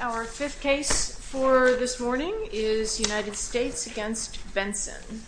Our fifth case for this morning is United States v. Benson.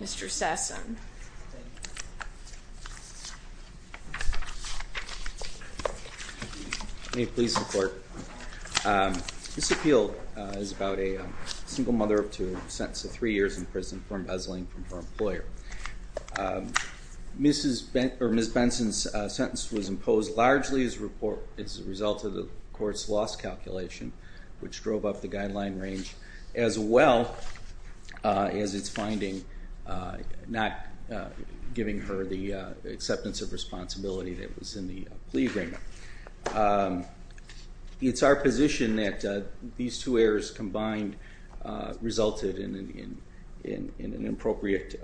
Mr. Sasson. May it please the court. This appeal is about a single mother up to a sentence of three years in prison for embezzling from her employer. Ms. Benson's sentence was imposed largely as a result of the court's loss calculation, which drove up the guideline range, as well as its finding not giving her the acceptance of responsibility that was in the plea agreement. It's our position that these two errors combined resulted in an appropriate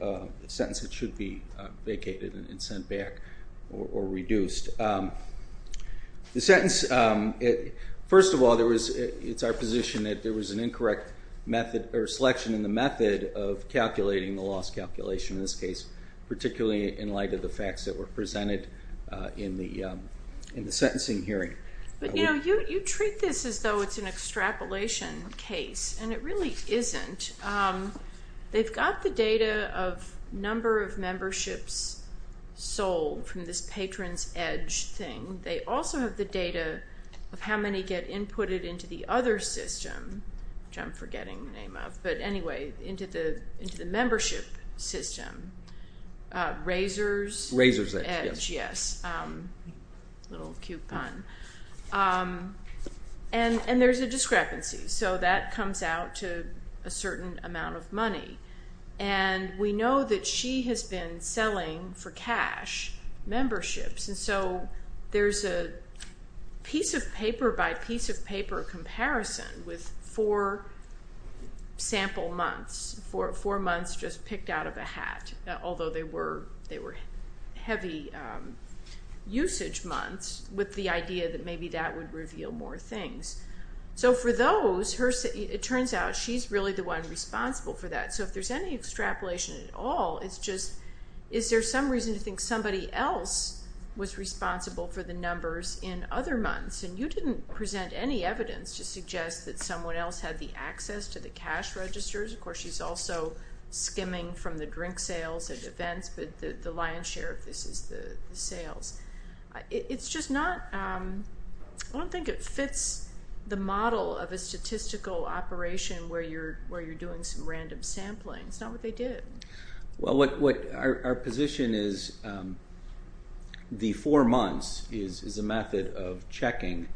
sentence that should be vacated and sent back or reduced. First of all, it's our position that there was an incorrect selection in the method of calculating the loss calculation in this case, particularly in light of the facts that were presented in the sentencing hearing. But you treat this as though it's an extrapolation case, and it really isn't. They've got the data of number of memberships sold from this patron's edge thing. They also have the data of how many get inputted into the other system, which I'm forgetting the name of, but anyway, into the membership system. Razor's edge, yes. A little cute pun. And there's a discrepancy, so that comes out to a certain amount of money. And we know that she has been selling for cash memberships, and so there's a piece-of-paper-by-piece-of-paper comparison with four sample months, four months just picked out of a hat, although they were heavy usage months, with the idea that maybe that would reveal more things. So for those, it turns out she's really the one responsible for that. So if there's any extrapolation at all, it's just is there some reason to think somebody else was responsible for the numbers in other months? And you didn't present any evidence to suggest that someone else had the access to the cash registers. Of course, she's also skimming from the drink sales and events, but the lion's share of this is the sales. It's just not – I don't think it fits the model of a statistical operation where you're doing some random sampling. It's not what they did. Well, our position is the four months is a method of checking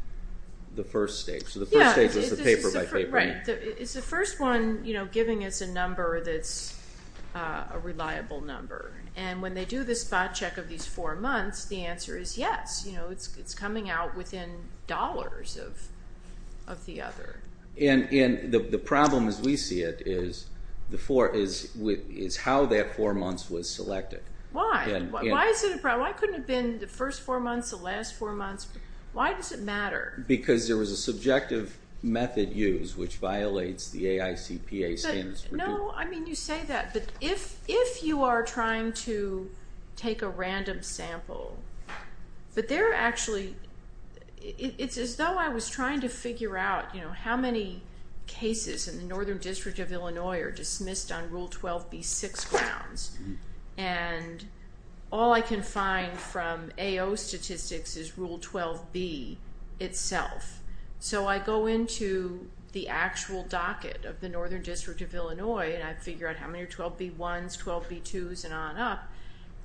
the first stage. So the first stage is the paper-by-paper. Right. It's the first one giving us a number that's a reliable number. And when they do the spot check of these four months, the answer is yes. It's coming out within dollars of the other. And the problem as we see it is how that four months was selected. Why? Why is it a problem? Why couldn't it have been the first four months, the last four months? Why does it matter? Because there was a subjective method used, which violates the AICPA standards. No, I mean, you say that, but if you are trying to take a random sample, but they're actually – it's as though I was trying to figure out, you know, how many cases in the Northern District of Illinois are dismissed on Rule 12b-6 grounds, and all I can find from AO statistics is Rule 12b itself. So I go into the actual docket of the Northern District of Illinois, and I figure out how many are 12b-1s, 12b-2s, and on up.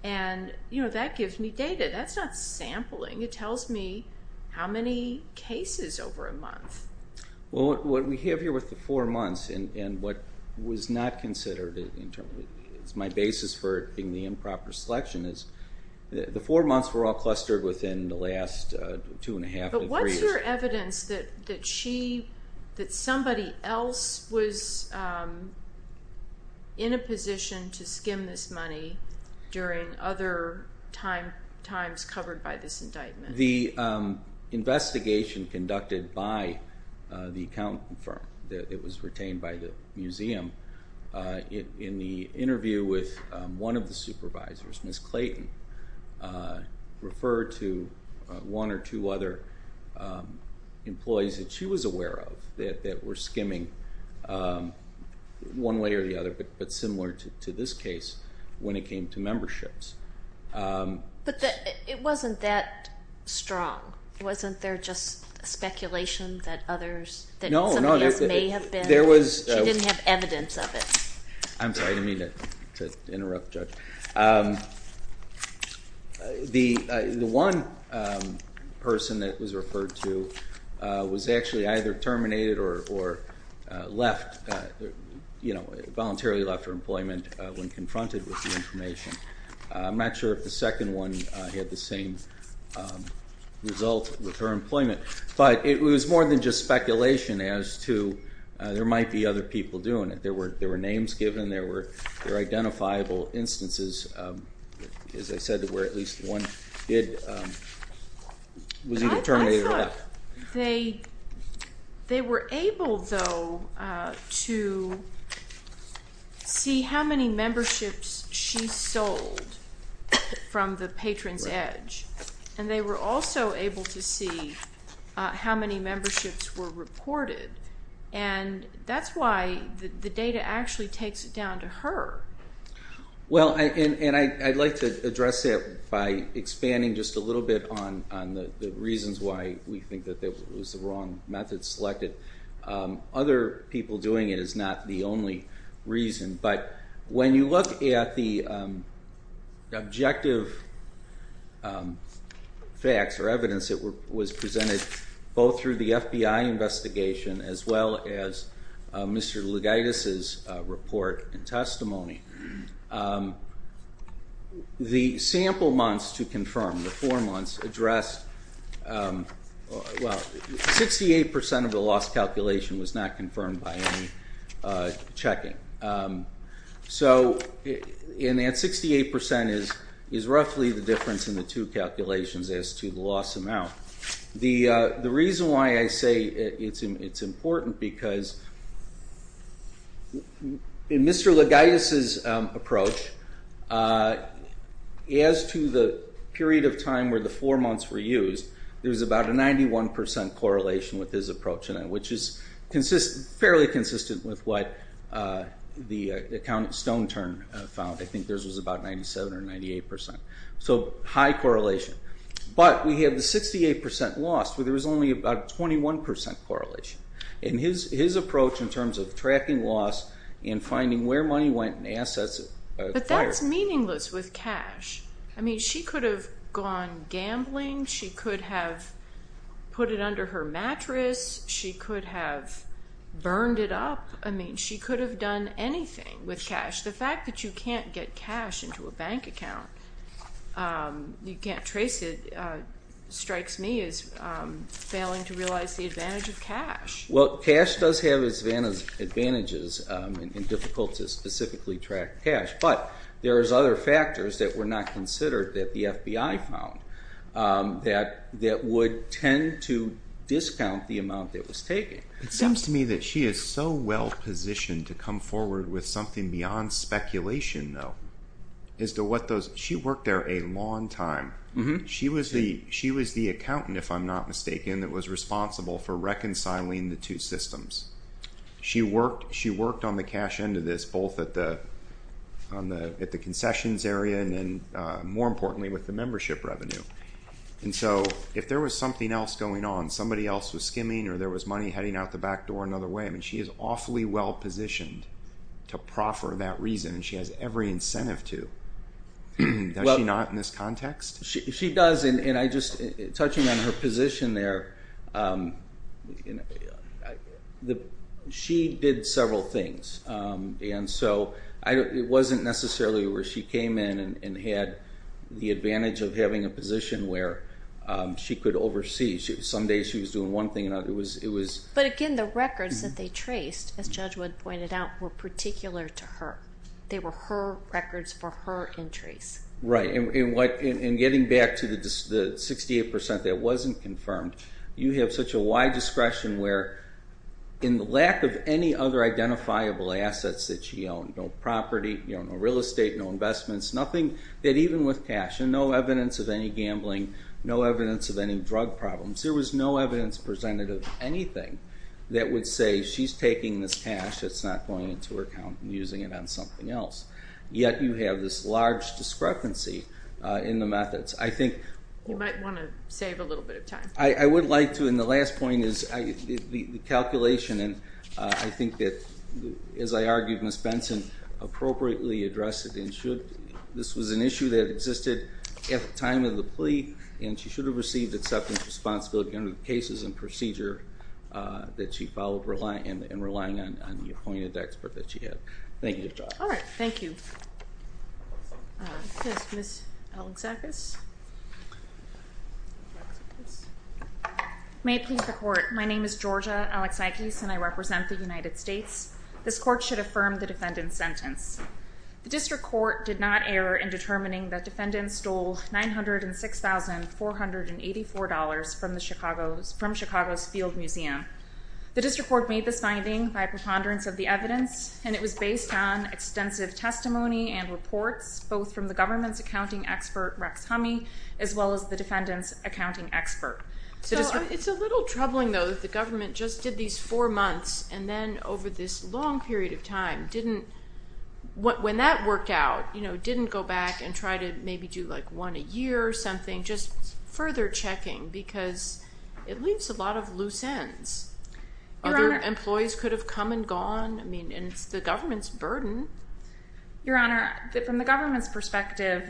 And, you know, that gives me data. That's not sampling. It tells me how many cases over a month. Well, what we have here with the four months and what was not considered as my basis for the improper selection is the four months were all clustered within the last two and a half to three years. But what's your evidence that somebody else was in a position to skim this money during other times covered by this indictment? The investigation conducted by the accountant firm that was retained by the museum, in the interview with one of the supervisors, Ms. Clayton, referred to one or two other employees that she was aware of that were skimming one way or the other, but similar to this case when it came to memberships. But it wasn't that strong. Wasn't there just speculation that others, that somebody else may have been? No, no. She didn't have evidence of it. I'm sorry. I didn't mean to interrupt the judge. The one person that was referred to was actually either terminated or left, voluntarily left her employment when confronted with the information. I'm not sure if the second one had the same result with her employment. But it was more than just speculation as to there might be other people doing it. There were names given. There were identifiable instances, as I said, where at least one was either terminated or left. They were able, though, to see how many memberships she sold from the patron's edge. And they were also able to see how many memberships were reported. And that's why the data actually takes it down to her. Well, and I'd like to address that by expanding just a little bit on the reasons why we think that it was the wrong method selected. Other people doing it is not the only reason. But when you look at the objective facts or evidence that was presented both through the FBI investigation as well as Mr. Lugaitis's report and testimony, the sample months to confirm, the four months, well, 68 percent of the loss calculation was not confirmed by any checking. And that 68 percent is roughly the difference in the two calculations as to the loss amount. The reason why I say it's important because in Mr. Lugaitis's approach, as to the period of time where the four months were used, there was about a 91 percent correlation with his approach, which is fairly consistent with what the account at Stone Turn found. I think theirs was about 97 or 98 percent, so high correlation. But we have the 68 percent loss where there was only about a 21 percent correlation. And his approach in terms of tracking loss and finding where money went and assets acquired. But that's meaningless with cash. I mean, she could have gone gambling. She could have put it under her mattress. She could have burned it up. I mean, she could have done anything with cash. The fact that you can't get cash into a bank account, you can't trace it, strikes me as failing to realize the advantage of cash. Well, cash does have its advantages in difficult to specifically track cash. But there is other factors that were not considered that the FBI found that would tend to discount the amount it was taking. It seems to me that she is so well positioned to come forward with something beyond speculation, though. She worked there a long time. She was the accountant, if I'm not mistaken, that was responsible for reconciling the two systems. She worked on the cash end of this, both at the concessions area and then, more importantly, with the membership revenue. And so if there was something else going on, somebody else was skimming or there was money heading out the back door another way, I mean, she is awfully well positioned to proffer that reason, and she has every incentive to. Does she not in this context? She does, and I just, touching on her position there, she did several things. And so it wasn't necessarily where she came in and had the advantage of having a position where she could oversee. Some days she was doing one thing and others it was. But again, the records that they traced, as Judge Wood pointed out, were particular to her. They were her records for her entries. Right, and getting back to the 68% that wasn't confirmed, you have such a wide discretion where, in the lack of any other identifiable assets that she owned, no property, no real estate, no investments, nothing that even with cash and no evidence of any gambling, no evidence of any drug problems, there was no evidence presented of anything that would say she's taking this cash, it's not going into her account and using it on something else. Yet you have this large discrepancy in the methods. I think... You might want to save a little bit of time. I would like to, and the last point is the calculation. And I think that, as I argued, Ms. Benson appropriately addressed it. This was an issue that existed at the time of the plea, and she should have received acceptance responsibility under the cases and procedure that she followed and relying on the appointed expert that she had. Thank you, Judge. All right, thank you. Ms. Alexakis? May it please the Court. My name is Georgia Alexakis, and I represent the United States. This Court should affirm the defendant's sentence. The District Court did not err in determining that defendants stole $906,484 from Chicago's Field Museum. The District Court made this finding by preponderance of the evidence, and it was based on extensive testimony and reports, both from the government's accounting expert, Rex Humme, as well as the defendant's accounting expert. So it's a little troubling, though, that the government just did these four months, and then over this long period of time didn't, when that worked out, didn't go back and try to maybe do, like, one a year or something, just further checking because it leaves a lot of loose ends. Other employees could have come and gone. I mean, it's the government's burden. Your Honor, from the government's perspective,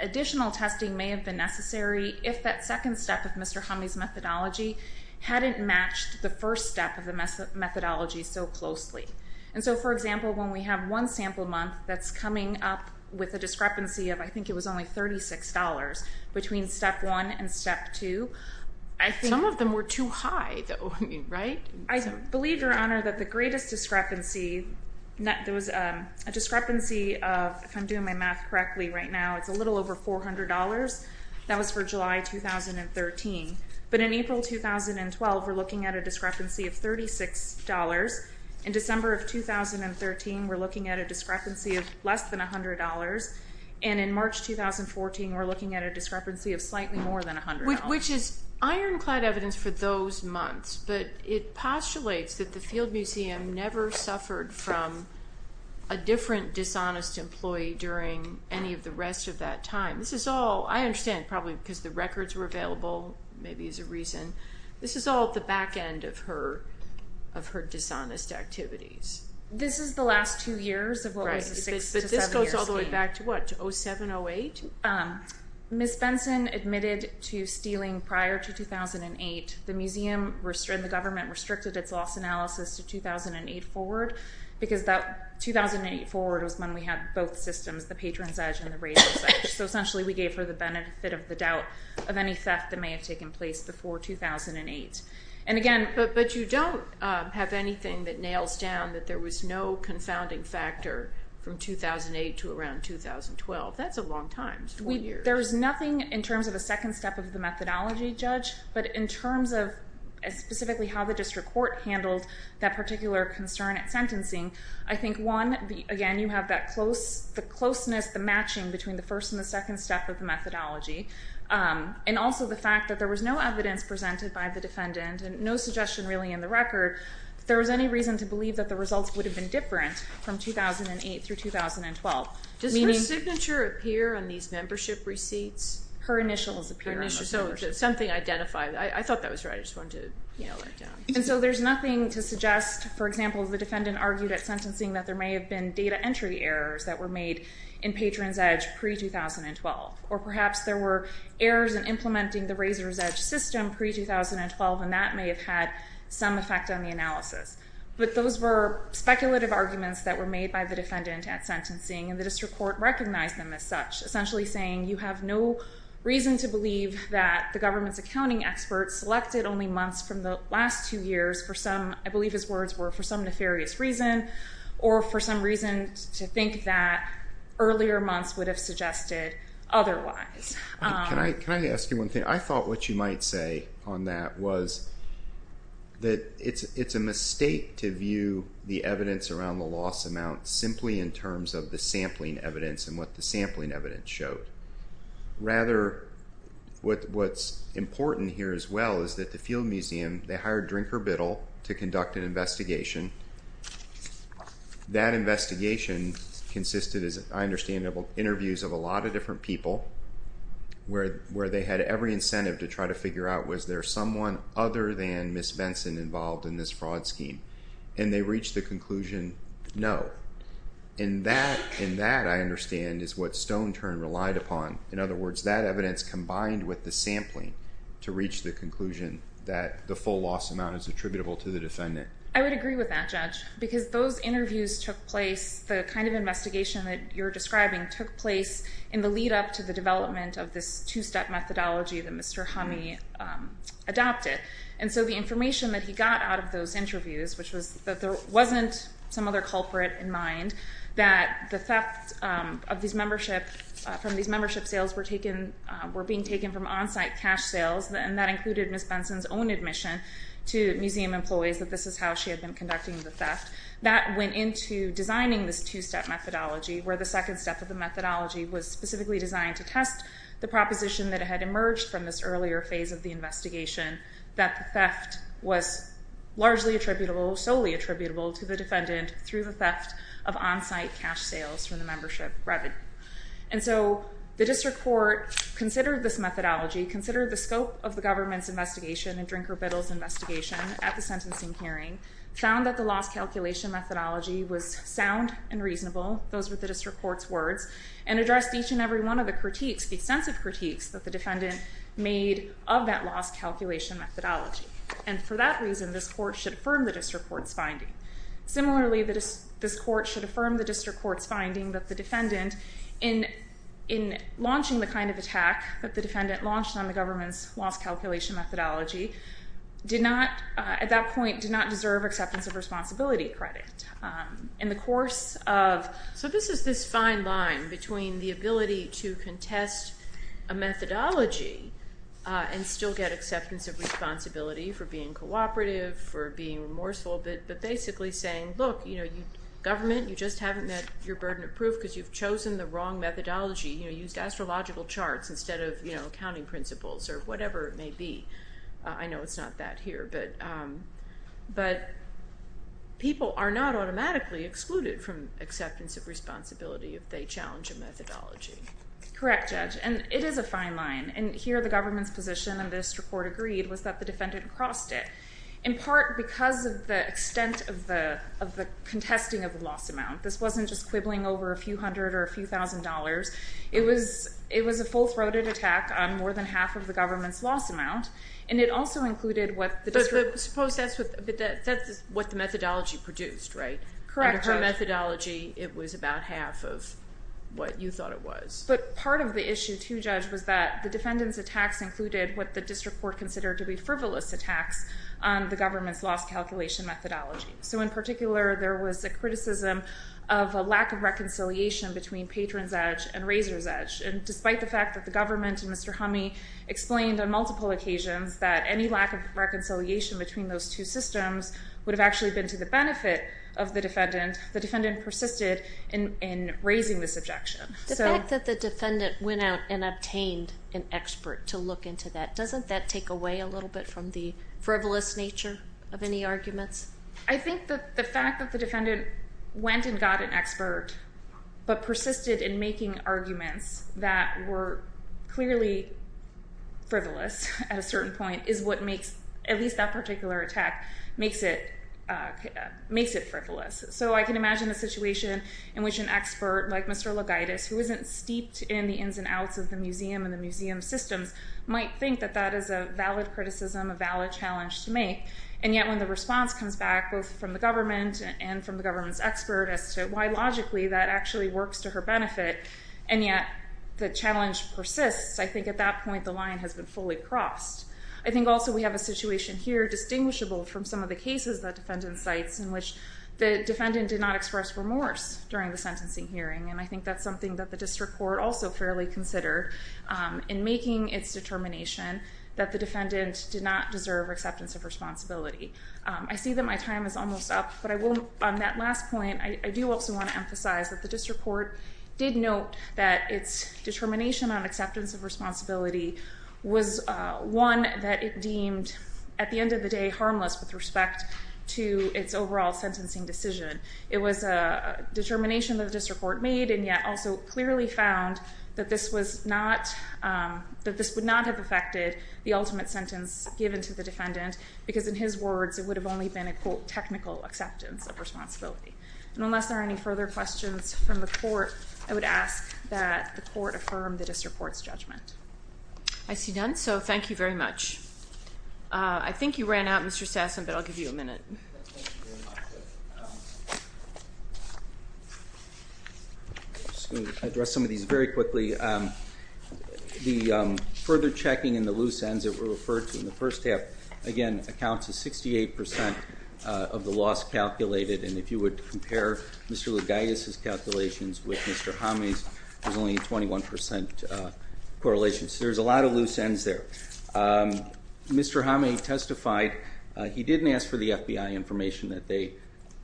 additional testing may have been necessary if that second step of Mr. Humme's methodology hadn't matched the first step of the methodology so closely. And so, for example, when we have one sample month that's coming up with a discrepancy of, I think it was only $36 between step one and step two, I think... Some of them were too high, though, right? I believe, Your Honor, that the greatest discrepancy, there was a discrepancy of, if I'm doing my math correctly right now, it's a little over $400. That was for July 2013. But in April 2012, we're looking at a discrepancy of $36. In December of 2013, we're looking at a discrepancy of less than $100. And in March 2014, we're looking at a discrepancy of slightly more than $100. Which is ironclad evidence for those months, but it postulates that the Field Museum never suffered from a different dishonest employee during any of the rest of that time. This is all, I understand, probably because the records were available, maybe as a reason. This is all at the back end of her dishonest activities. This is the last two years of what was a six- to seven-year scheme. Right, but this goes all the way back to what, to 07-08? Ms. Benson admitted to stealing prior to 2008. The museum and the government restricted its loss analysis to 2008 forward, because 2008 forward was when we had both systems, the patron's edge and the raider's edge. So essentially we gave her the benefit of the doubt of any theft that may have taken place before 2008. But you don't have anything that nails down that there was no confounding factor from 2008 to around 2012. That's a long time, four years. There's nothing in terms of a second step of the methodology, Judge, but in terms of specifically how the district court handled that particular concern at sentencing, I think one, again, you have the closeness, the matching between the first and the second step of the methodology. And also the fact that there was no evidence presented by the defendant, and no suggestion really in the record, that there was any reason to believe that the results would have been different from 2008 through 2012. Does her signature appear on these membership receipts? Her initials appear on those. So something identified. I thought that was right. I just wanted to let it down. And so there's nothing to suggest, for example, the defendant argued at sentencing that there may have been data entry errors that were made in patron's edge pre-2012. Or perhaps there were errors in implementing the raider's edge system pre-2012, and that may have had some effect on the analysis. But those were speculative arguments that were made by the defendant at sentencing, and the district court recognized them as such, essentially saying you have no reason to believe that the government's accounting expert selected only months from the last two years for some, I believe his words were for some nefarious reason, or for some reason to think that earlier months would have suggested otherwise. Can I ask you one thing? I thought what you might say on that was that it's a mistake to view the evidence around the loss amount simply in terms of the sampling evidence and what the sampling evidence showed. Rather, what's important here as well is that the Field Museum, they hired Drinker Biddle to conduct an investigation. That investigation consisted, as I understand it, of interviews of a lot of different people where they had every incentive to try to figure out, was there someone other than Ms. Benson involved in this fraud scheme? And they reached the conclusion, no. And that, I understand, is what Stone Turn relied upon. In other words, that evidence combined with the sampling to reach the conclusion that the full loss amount is attributable to the defendant. I would agree with that, Judge, because those interviews took place, the kind of investigation that you're describing took place in the lead-up to the development of this two-step methodology that Mr. Hummey adopted. And so the information that he got out of those interviews, which was that there wasn't some other culprit in mind, that the theft from these membership sales were being taken from on-site cash sales, and that included Ms. Benson's own admission to museum employees that this is how she had been conducting the theft. That went into designing this two-step methodology, where the second step of the methodology was specifically designed to test the proposition that had emerged from this earlier phase of the investigation, that the theft was largely attributable, solely attributable to the defendant through the theft of on-site cash sales from the membership revenue. And so the district court considered this methodology, considered the scope of the government's investigation and Drinker Biddle's investigation at the sentencing hearing, found that the loss calculation methodology was sound and reasonable, those were the district court's words, and addressed each and every one of the critiques, the extensive critiques, that the defendant made of that loss calculation methodology. And for that reason, this court should affirm the district court's finding. Similarly, this court should affirm the district court's finding that the defendant, in launching the kind of attack that the defendant launched on the government's loss calculation methodology, at that point did not deserve acceptance of responsibility credit. In the course of... So this is this fine line between the ability to contest a methodology and still get acceptance of responsibility for being cooperative, for being remorseful, but basically saying, look, government, you just haven't met your burden of proof because you've chosen the wrong methodology. You used astrological charts instead of accounting principles or whatever it may be. I know it's not that here, but people are not automatically excluded from acceptance of responsibility if they challenge a methodology. Correct, Judge, and it is a fine line. And here the government's position, and the district court agreed, was that the defendant crossed it, in part because of the extent of the contesting of the loss amount. This wasn't just quibbling over a few hundred or a few thousand dollars. It was a full-throated attack on more than half of the government's loss amount, and it also included what the district... But suppose that's what the methodology produced, right? Correct, Judge. Under her methodology, it was about half of what you thought it was. But part of the issue, too, Judge, was that the defendant's attacks included what the district court considered to be frivolous attacks on the government's loss calculation methodology. So in particular, there was a criticism of a lack of reconciliation between patron's edge and raiser's edge. And despite the fact that the government and Mr. Humme explained on multiple occasions that any lack of reconciliation between those two systems would have actually been to the benefit of the defendant, the defendant persisted in raising this objection. The fact that the defendant went out and obtained an expert to look into that, doesn't that take away a little bit from the frivolous nature of any arguments? I think that the fact that the defendant went and got an expert but persisted in making arguments that were clearly frivolous at a certain point is what makes, at least that particular attack, makes it frivolous. So I can imagine a situation in which an expert like Mr. Logaitis, who isn't steeped in the ins and outs of the museum and the museum systems, might think that that is a valid criticism, a valid challenge to make. And yet when the response comes back, both from the government and from the government's expert as to why, logically, that actually works to her benefit, and yet the challenge persists, I think at that point the line has been fully crossed. I think also we have a situation here, distinguishable from some of the cases the defendant cites, in which the defendant did not express remorse during the sentencing hearing, and I think that's something that the district court also fairly considered in making its determination that the defendant did not deserve acceptance of responsibility. I see that my time is almost up, but on that last point, I do also want to emphasize that the district court did note that its determination on acceptance of responsibility was one that it deemed, at the end of the day, harmless with respect to its overall sentencing decision. It was a determination that the district court made, and yet also clearly found that this would not have affected the ultimate sentence given to the defendant, because in his words it would have only been a, quote, technical acceptance of responsibility. And unless there are any further questions from the court, I would ask that the court affirm the district court's judgment. I see none, so thank you very much. I think you ran out, Mr. Sasson, but I'll give you a minute. I'm just going to address some of these very quickly. The further checking and the loose ends that were referred to in the first half, again, accounts to 68% of the loss calculated, and if you would compare Mr. Lougais' calculations with Mr. Homme's, there's only a 21% correlation. So there's a lot of loose ends there. Mr. Homme testified he didn't ask for the FBI information that they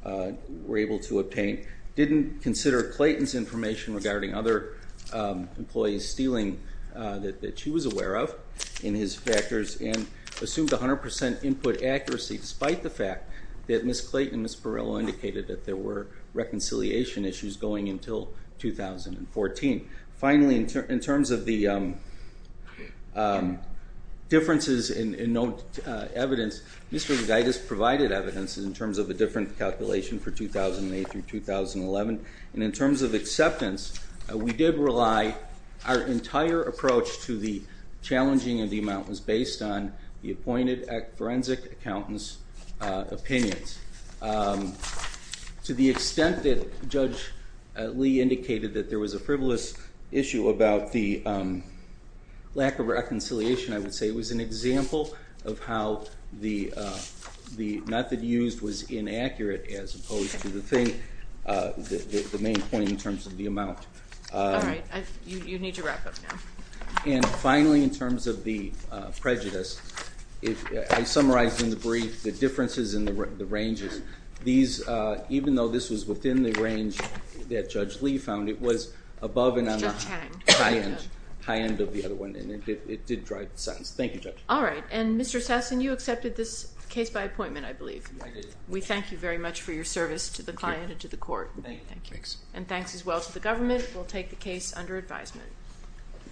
were able to obtain, didn't consider Clayton's information regarding other employees stealing that she was aware of in his factors, and assumed 100% input accuracy despite the fact that Ms. Clayton and Ms. Borrello indicated that there were reconciliation issues going until 2014. Finally, in terms of the differences in evidence, Mr. Lougais provided evidence in terms of a different calculation for 2008 through 2011, and in terms of acceptance, we did rely our entire approach to the challenging of the amount was based on the appointed forensic accountant's opinions. To the extent that Judge Lee indicated that there was a frivolous issue about the lack of reconciliation, I would say it was an example of how the method used was inaccurate as opposed to the thing, the main point in terms of the amount. All right. You need to wrap up now. And finally, in terms of the prejudice, I summarized in the brief the differences in the ranges. Even though this was within the range that Judge Lee found, it was above and on the high end of the other one, and it did drive the sentence. Thank you, Judge. All right. And Mr. Sassen, you accepted this case by appointment, I believe. I did. We thank you very much for your service to the client and to the court. Thank you. And thanks as well to the government. We'll take the case under advisement.